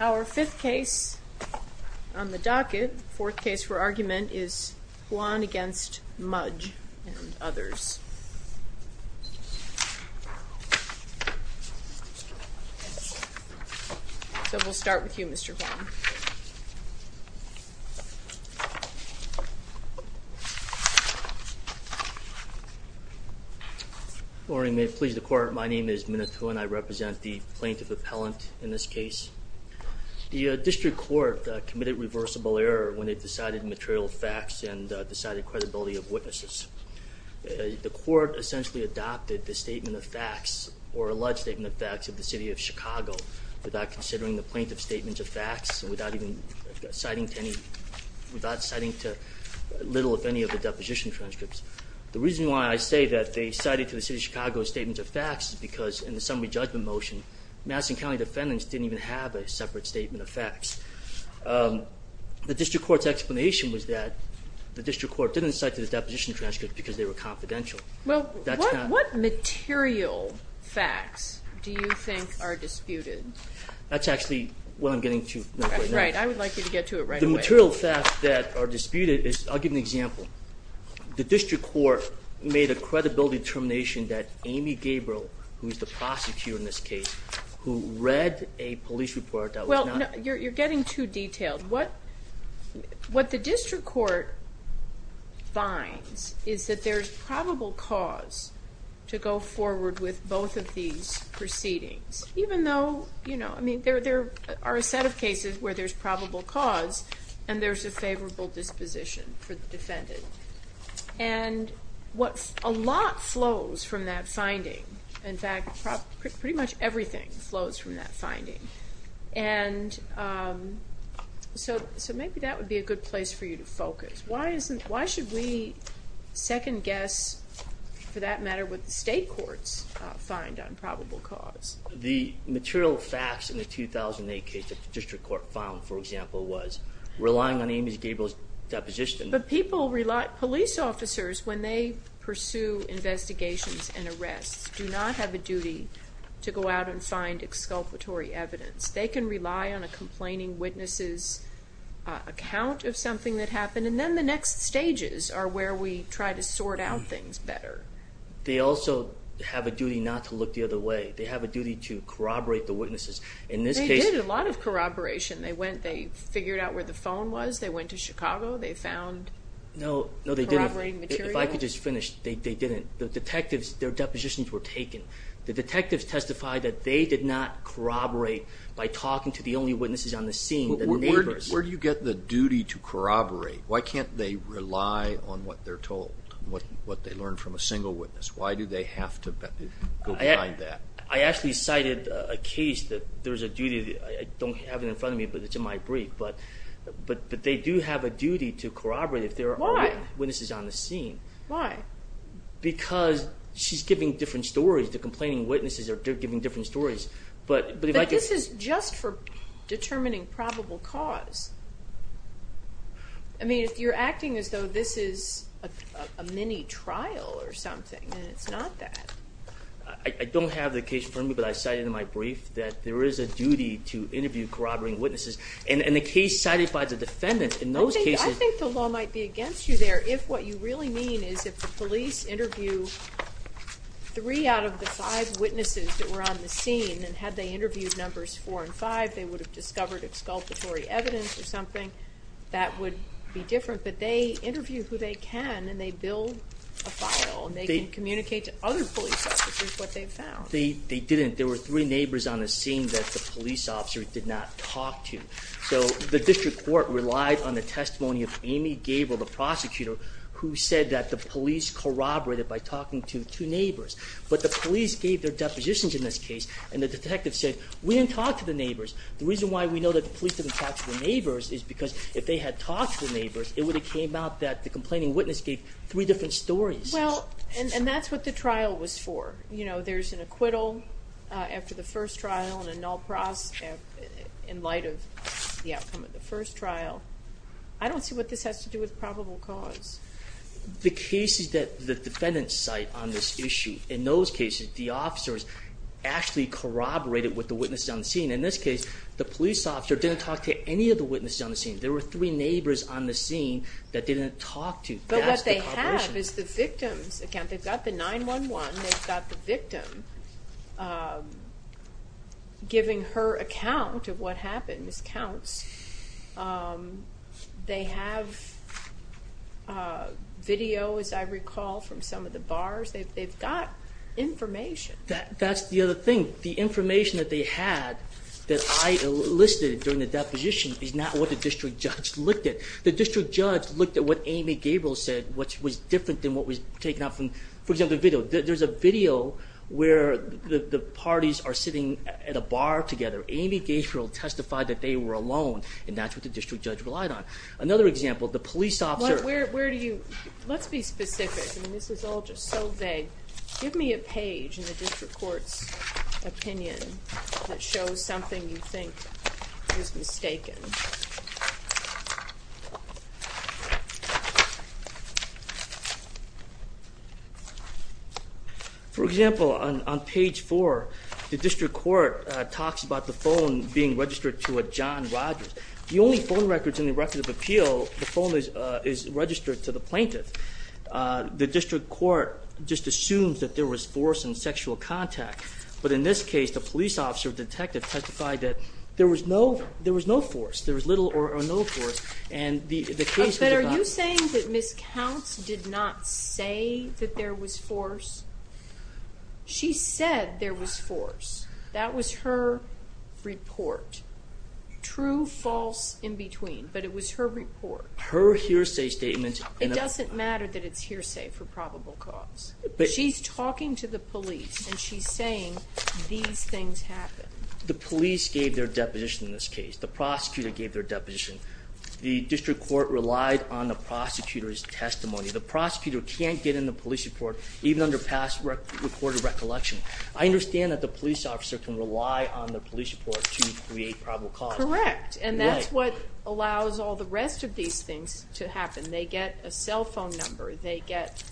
Our fifth case on the docket, the fourth case for argument, is Huon v. Mudge and others. So we'll start with you, Mr. Huon. Morning, may it please the court. My name is Minith Huon. I represent the plaintiff appellant in this case. The district court committed reversible error when it decided material facts and decided credibility of witnesses. The court essentially adopted the statement of facts or alleged statement of facts of the city of Chicago without considering the plaintiff's statement of facts and without citing to little, if any, of the deposition transcripts. The reason why I say that they cited to the city of Chicago statements of facts is because in the summary judgment motion, Madison County defendants didn't even have a separate statement of facts. The district court's explanation was that the district court didn't cite to the deposition transcripts because they were confidential. Well, what material facts do you think are disputed? That's actually what I'm getting to. Right, I would like you to get to it right away. The material facts that are disputed is, I'll give an example. The district court made a credibility determination that Amy Gabriel, who is the prosecutor in this case, who read a police report that was not... to go forward with both of these proceedings, even though there are a set of cases where there's probable cause and there's a favorable disposition for the defendant. And a lot flows from that finding. In fact, pretty much everything flows from that finding. And so maybe that would be a good place for you to focus. Why should we second-guess, for that matter, what the state courts find on probable cause? The material facts in the 2008 case that the district court found, for example, was relying on Amy Gabriel's deposition. But police officers, when they pursue investigations and arrests, do not have a duty to go out and find exculpatory evidence. They can rely on a complaining witness's account of something that happened. And then the next stages are where we try to sort out things better. They also have a duty not to look the other way. They have a duty to corroborate the witnesses. They did a lot of corroboration. They figured out where the phone was. They went to Chicago. They found corroborating material. No, they didn't. If I could just finish, they didn't. The detectives, their depositions were taken. The detectives testified that they did not corroborate by talking to the only witnesses on the scene, the neighbors. Where do you get the duty to corroborate? Why can't they rely on what they're told, what they learn from a single witness? Why do they have to go behind that? I actually cited a case that there's a duty. I don't have it in front of me, but it's in my brief. But they do have a duty to corroborate if there are witnesses on the scene. Why? Because she's giving different stories. The complaining witnesses are giving different stories. But this is just for determining probable cause. I mean, you're acting as though this is a mini-trial or something, and it's not that. I don't have the case in front of me, but I cited in my brief that there is a duty to interview corroborating witnesses. And the case cited by the defendants in those cases— the police interview three out of the five witnesses that were on the scene. And had they interviewed numbers four and five, they would have discovered exculpatory evidence or something. That would be different. But they interview who they can, and they build a file. And they can communicate to other police officers what they've found. They didn't. There were three neighbors on the scene that the police officer did not talk to. So the district court relied on the testimony of Amy Gable, the prosecutor, who said that the police corroborated by talking to two neighbors. But the police gave their depositions in this case, and the detective said, we didn't talk to the neighbors. The reason why we know that the police didn't talk to the neighbors is because if they had talked to the neighbors, it would have came out that the complaining witness gave three different stories. Well, and that's what the trial was for. You know, there's an acquittal after the first trial and a null process in light of the outcome of the first trial. I don't see what this has to do with probable cause. The cases that the defendants cite on this issue, in those cases, the officers actually corroborated with the witnesses on the scene. In this case, the police officer didn't talk to any of the witnesses on the scene. There were three neighbors on the scene that they didn't talk to. But what they have is the victim's account. They've got the 911. They've got the victim giving her account of what happened, miscounts. They have video, as I recall, from some of the bars. They've got information. That's the other thing. The information that they had that I listed during the deposition is not what the district judge looked at. The district judge looked at what Amy Gabriel said, which was different than what was taken out from, for example, the video. There's a video where the parties are sitting at a bar together. Amy Gabriel testified that they were alone, and that's what the district judge relied on. Another example, the police officer— Where do you—let's be specific. I mean, this is all just so vague. Give me a page in the district court's opinion that shows something you think is mistaken. For example, on page 4, the district court talks about the phone being registered to a John Rogers. The only phone records in the record of appeal, the phone is registered to the plaintiff. The district court just assumes that there was force in sexual contact. But in this case, the police officer detective testified that there was no force. There was little or no force, and the case— But are you saying that miscounts did not say that there was force? She said there was force. That was her report. True, false, in between, but it was her report. Her hearsay statement— It doesn't matter that it's hearsay for probable cause. She's talking to the police, and she's saying these things happen. The police gave their deposition in this case. The prosecutor gave their deposition. The district court relied on the prosecutor's testimony. The prosecutor can't get in the police report, even under past recorded recollection. I understand that the police officer can rely on the police report to create probable cause. Correct, and that's what allows all the rest of these things to happen. They get a cell phone number. They get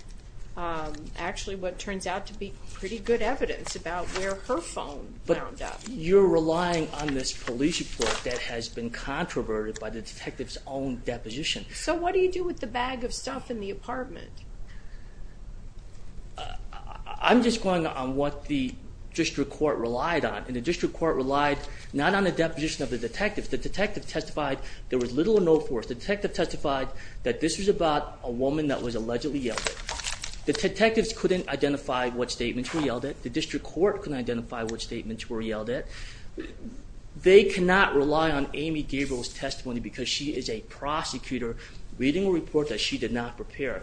actually what turns out to be pretty good evidence about where her phone wound up. But you're relying on this police report that has been controverted by the detective's own deposition. So what do you do with the bag of stuff in the apartment? I'm just going on what the district court relied on, and the district court relied not on the deposition of the detective. The detective testified there was little or no force. The detective testified that this was about a woman that was allegedly yelled at. The detectives couldn't identify what statements were yelled at. The district court couldn't identify what statements were yelled at. They cannot rely on Amy Gabriel's testimony because she is a prosecutor reading a report that she did not prepare.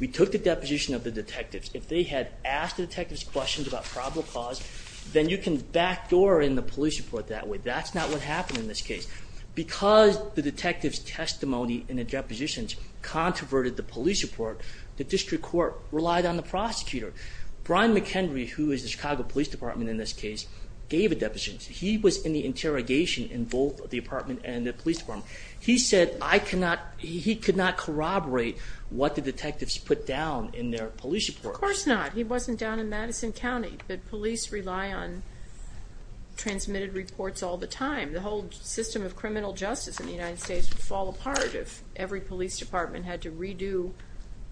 We took the deposition of the detectives. If they had asked the detectives questions about probable cause, then you can backdoor in the police report that way. That's not what happened in this case. Because the detectives' testimony in the depositions controverted the police report, the district court relied on the prosecutor. Brian McHenry, who is the Chicago Police Department in this case, gave a deposition. He was in the interrogation in both the apartment and the police department. He said he could not corroborate what the detectives put down in their police report. Of course not. He wasn't down in Madison County, but police rely on transmitted reports all the time. The whole system of criminal justice in the United States would fall apart if every police department had to redo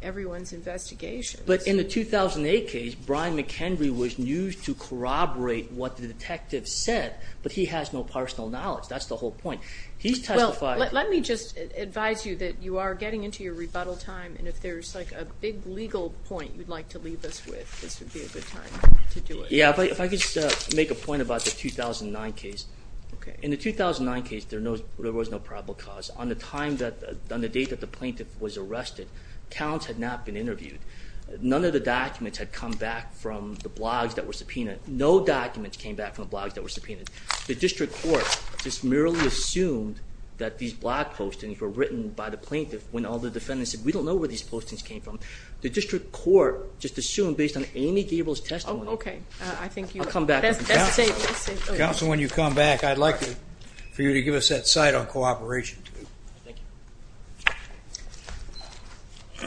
everyone's investigations. But in the 2008 case, Brian McHenry was used to corroborate what the detectives said, but he has no personal knowledge. That's the whole point. Well, let me just advise you that you are getting into your rebuttal time, and if there's a big legal point you'd like to leave us with, this would be a good time to do it. Yeah, if I could just make a point about the 2009 case. In the 2009 case, there was no probable cause. On the date that the plaintiff was arrested, accounts had not been interviewed. None of the documents had come back from the blogs that were subpoenaed. No documents came back from the blogs that were subpoenaed. The district court just merely assumed that these blog postings were written by the plaintiff when all the defendants said, We don't know where these postings came from. The district court just assumed based on Amy Gabel's testimony. Oh, okay. I'll come back. That's safe. Counsel, when you come back, I'd like for you to give us that side on cooperation. Thank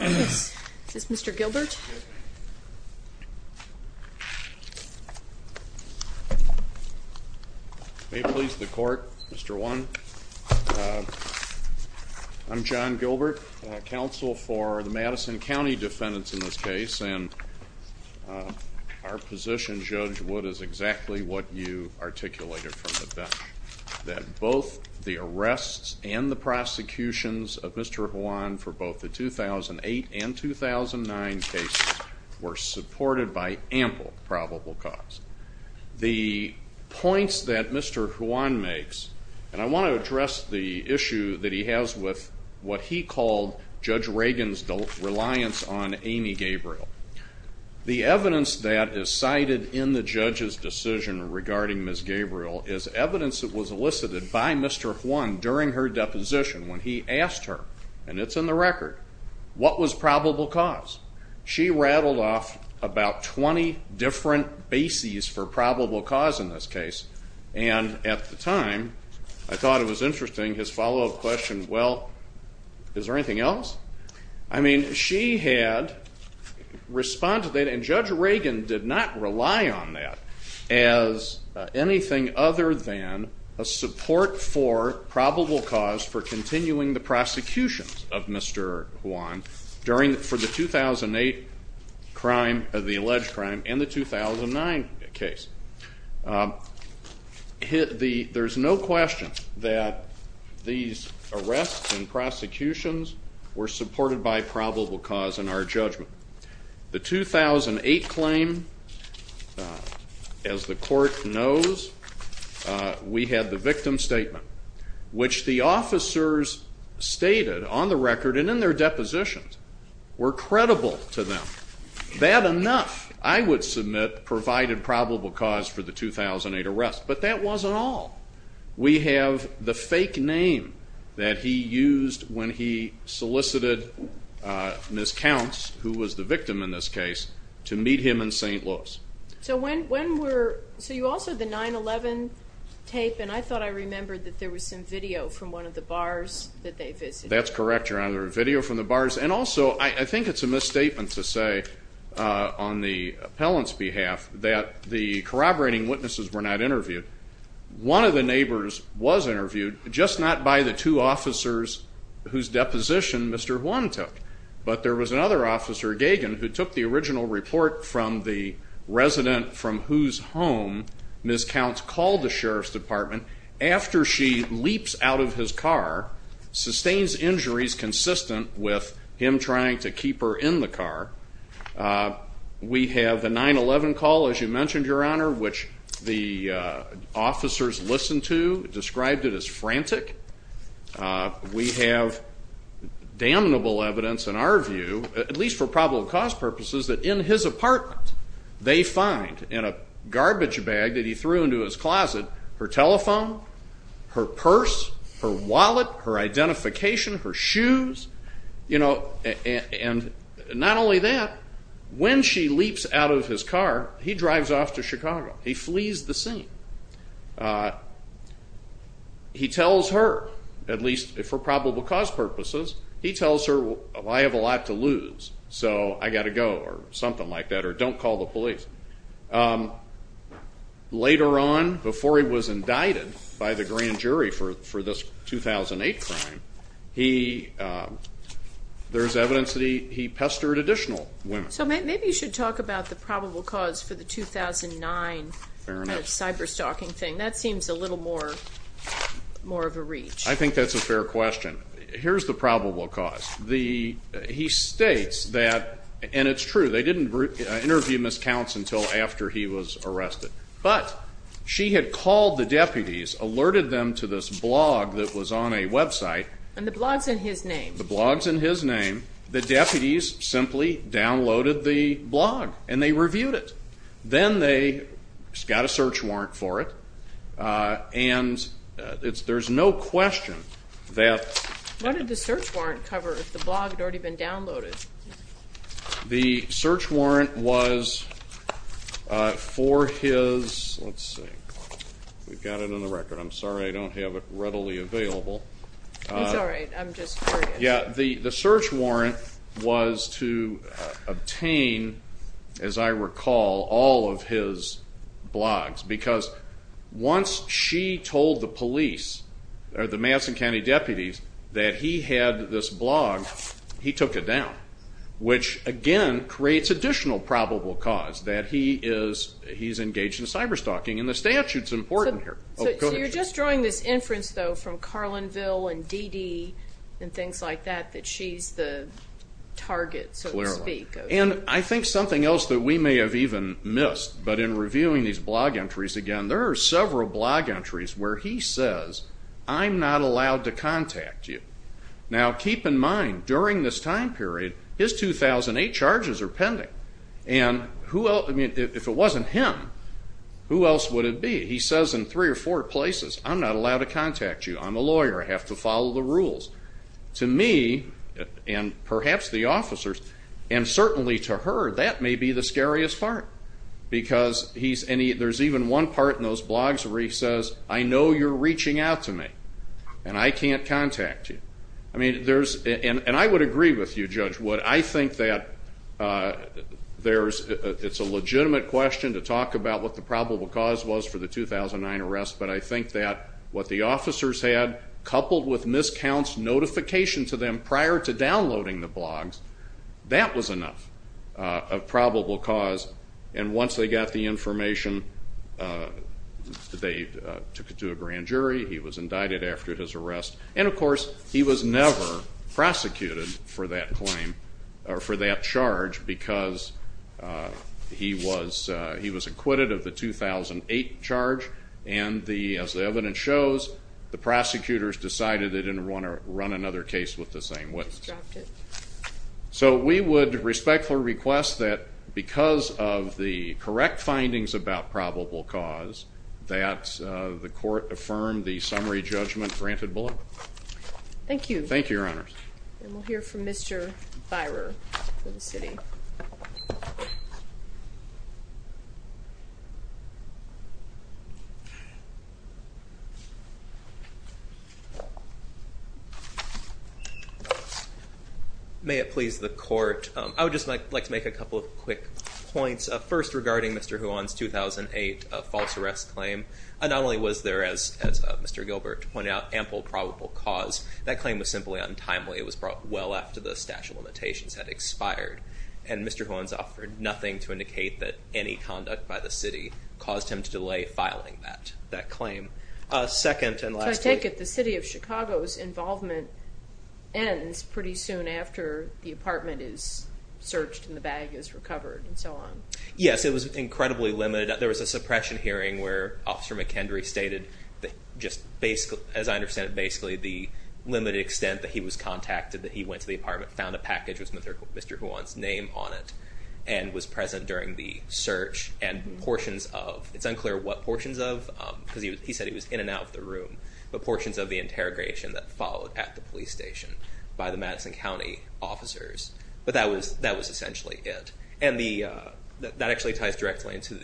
you. Is this Mr. Gilbert? Yes, ma'am. May it please the court, Mr. One. I'm John Gilbert, counsel for the Madison County defendants in this case, and our position, Judge Wood, is exactly what you articulated from the bench, that both the arrests and the prosecutions of Mr. Juan for both the 2008 and 2009 cases were supported by ample probable cause. The points that Mr. Juan makes, and I want to address the issue that he has with what he called Judge Reagan's reliance on Amy Gabriel. The evidence that is cited in the judge's decision regarding Ms. Gabriel is evidence that was elicited by Mr. Juan during her deposition when he asked her, and it's in the record, what was probable cause? She rattled off about 20 different bases for probable cause in this case, and at the time, I thought it was interesting, his follow-up question, well, is there anything else? I mean, she had responded, and Judge Reagan did not rely on that as anything other than a support for probable cause for continuing the prosecutions of Mr. Juan for the 2008 crime, the alleged crime, and the 2009 case. There's no question that these arrests and prosecutions were supported by probable cause in our judgment. The 2008 claim, as the court knows, we had the victim statement, which the officers stated on the record and in their depositions were credible to them. That enough, I would submit, provided probable cause for the 2008 arrest. But that wasn't all. We have the fake name that he used when he solicited Ms. Counts, who was the victim in this case, to meet him in St. Louis. So you also had the 9-11 tape, and I thought I remembered that there was some video from one of the bars that they visited. That's correct, Your Honor, video from the bars. And also, I think it's a misstatement to say on the appellant's behalf that the corroborating witnesses were not interviewed. One of the neighbors was interviewed, just not by the two officers whose deposition Mr. Juan took, but there was another officer, Gagan, who took the original report from the resident from whose home Ms. Counts called the Sheriff's Department after she leaps out of his car, sustains injuries consistent with him trying to keep her in the car. We have the 9-11 call, as you mentioned, Your Honor, which the officers listened to, described it as frantic. We have damnable evidence, in our view, at least for probable cause purposes, that in his apartment they find, in a garbage bag that he threw into his closet, her telephone, her purse, her wallet, her identification, her shoes. And not only that, when she leaps out of his car, he drives off to Chicago. He flees the scene. He tells her, at least for probable cause purposes, he tells her, I have a lot to lose, so I've got to go, or something like that, or don't call the police. Later on, before he was indicted by the grand jury for this 2008 crime, there's evidence that he pestered additional women. So maybe you should talk about the probable cause for the 2009 cyber-stalking thing. That seems a little more of a reach. I think that's a fair question. Here's the probable cause. He states that, and it's true, they didn't interview Ms. Counts until after he was arrested, but she had called the deputies, alerted them to this blog that was on a website. And the blog's in his name. The deputies simply downloaded the blog, and they reviewed it. Then they got a search warrant for it. And there's no question that the search warrant was for his, let's see, we've got it on the record. I'm sorry I don't have it readily available. It's all right. I'm just curious. Yeah, the search warrant was to obtain, as I recall, all of his blogs. Because once she told the police, or the Madison County deputies, that he had this blog, he took it down, which, again, creates additional probable cause that he's engaged in cyber-stalking. And the statute's important here. So you're just drawing this inference, though, from Carlinville and DD and things like that, that she's the target, so to speak. And I think something else that we may have even missed, but in reviewing these blog entries again, there are several blog entries where he says, I'm not allowed to contact you. Now, keep in mind, during this time period, his 2008 charges are pending. And if it wasn't him, who else would it be? He says in three or four places, I'm not allowed to contact you. I'm a lawyer. I have to follow the rules. To me, and perhaps the officers, and certainly to her, that may be the scariest part. Because there's even one part in those blogs where he says, I know you're reaching out to me, and I can't contact you. And I would agree with you, Judge Wood. But I think that it's a legitimate question to talk about what the probable cause was for the 2009 arrest. But I think that what the officers had, coupled with Miss Count's notification to them prior to downloading the blogs, that was enough of probable cause. And once they got the information, they took it to a grand jury. He was indicted after his arrest. And, of course, he was never prosecuted for that charge because he was acquitted of the 2008 charge. And as the evidence shows, the prosecutors decided they didn't want to run another case with the same witness. So we would respectfully request that because of the correct findings about probable cause, that the court affirm the summary judgment granted below. Thank you. Thank you, Your Honors. And we'll hear from Mr. Byrer for the city. May it please the court, I would just like to make a couple of quick points. First, regarding Mr. Huon's 2008 false arrest claim, not only was there, as Mr. Gilbert pointed out, ample probable cause, that claim was simply untimely. It was brought well after the statute of limitations had expired. And Mr. Huon's offered nothing to indicate that any conduct by the city caused him to delay filing that claim. Second, and lastly. involvement ends pretty soon after the apartment is searched and the bag is recovered and so on. Yes, it was incredibly limited. There was a suppression hearing where Officer McHenry stated that just basically, as I understand it, basically the limited extent that he was contacted that he went to the apartment, found a package with Mr. Huon's name on it, and was present during the search and portions of, it's unclear what portions of, because he said he was in and out of the room, but portions of the interrogation that followed at the police station by the Madison County officers. But that was essentially it. And that actually ties directly into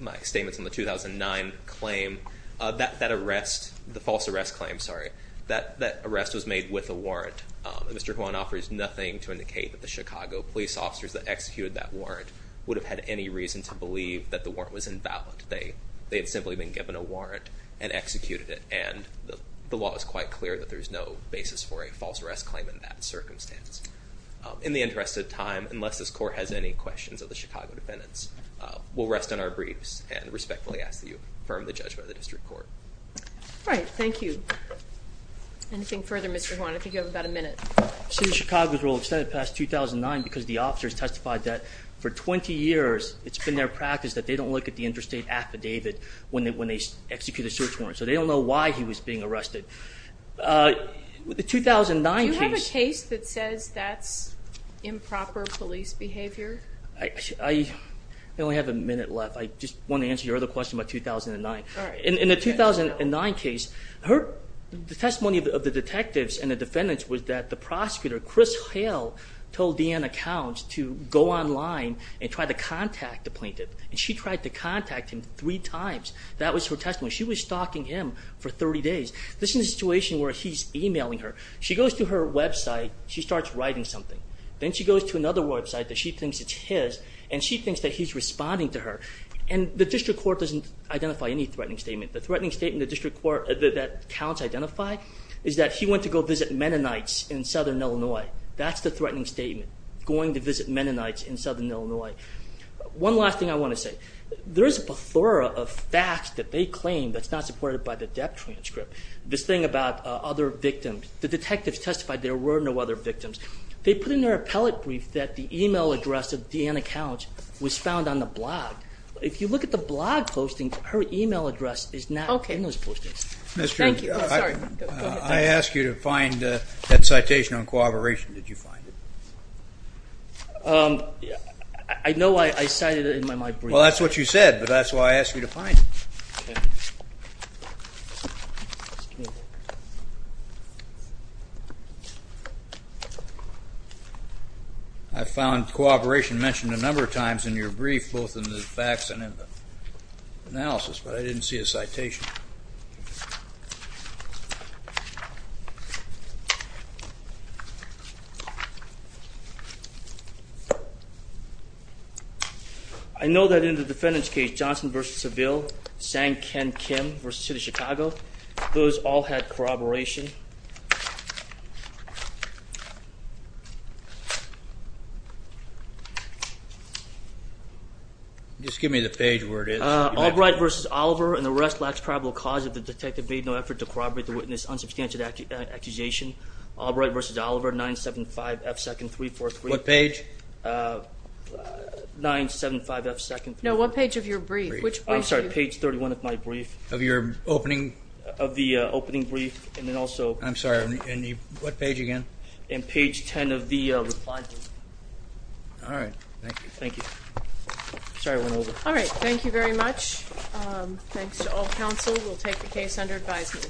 my statements on the 2009 claim. That arrest, the false arrest claim, sorry, that arrest was made with a warrant. And Mr. Huon offers nothing to indicate that the Chicago police officers that executed that warrant would have had any reason to believe that the warrant was invalid. They had simply been given a warrant and executed it. And the law is quite clear that there's no basis for a false arrest claim in that circumstance. In the interest of time, unless this Court has any questions of the Chicago defendants, we'll rest on our briefs and respectfully ask that you affirm the judgment of the District Court. All right. Thank you. Anything further, Mr. Huon? I think you have about a minute. The city of Chicago's rule extended past 2009 because the officers testified that for 20 years it's been their practice that they don't look at the interstate affidavit when they execute a search warrant. So they don't know why he was being arrested. The 2009 case- Do you have a case that says that's improper police behavior? I only have a minute left. I just want to answer your other question about 2009. In the 2009 case, the testimony of the detectives and the defendants was that the prosecutor, Chris Hale, told Deanna Counts to go online and try to contact the plaintiff, and she tried to contact him three times. That was her testimony. She was stalking him for 30 days. This is a situation where he's emailing her. She goes to her website. She starts writing something. Then she goes to another website that she thinks is his, and she thinks that he's responding to her. And the District Court doesn't identify any threatening statement. The threatening statement that Counts identified is that he went to go visit Mennonites in southern Illinois. That's the threatening statement, going to visit Mennonites in southern Illinois. One last thing I want to say. There is a plethora of facts that they claim that's not supported by the death transcript. This thing about other victims. The detectives testified there were no other victims. They put in their appellate brief that the email address of Deanna Counts was found on the blog. If you look at the blog postings, her email address is not in those postings. I asked you to find that citation on cooperation. Did you find it? I know I cited it in my brief. Well, that's what you said, but that's why I asked you to find it. Okay. I found cooperation mentioned a number of times in your brief, both in the facts and in the analysis, but I didn't see a citation. I know that in the defendant's case, Johnson v. Seville, Sang Ken Kim v. City of Chicago, those all had corroboration. Just give me the page where it is. Albright v. Oliver, and the rest lacks probable cause if the detective made no effort to corroborate the witness's unsubstantial accusation. Albright v. Oliver, 975F2nd343. What page? 975F2nd343. No, what page of your brief? I'm sorry, page 31 of my brief. Of your opening? Of the opening brief, and then also. I'm sorry, what page again? Page 10 of the reply. All right. Thank you. Thank you. Sorry, I went over. All right. Thank you very much. Thanks to all counsel. We'll take the case under advisement.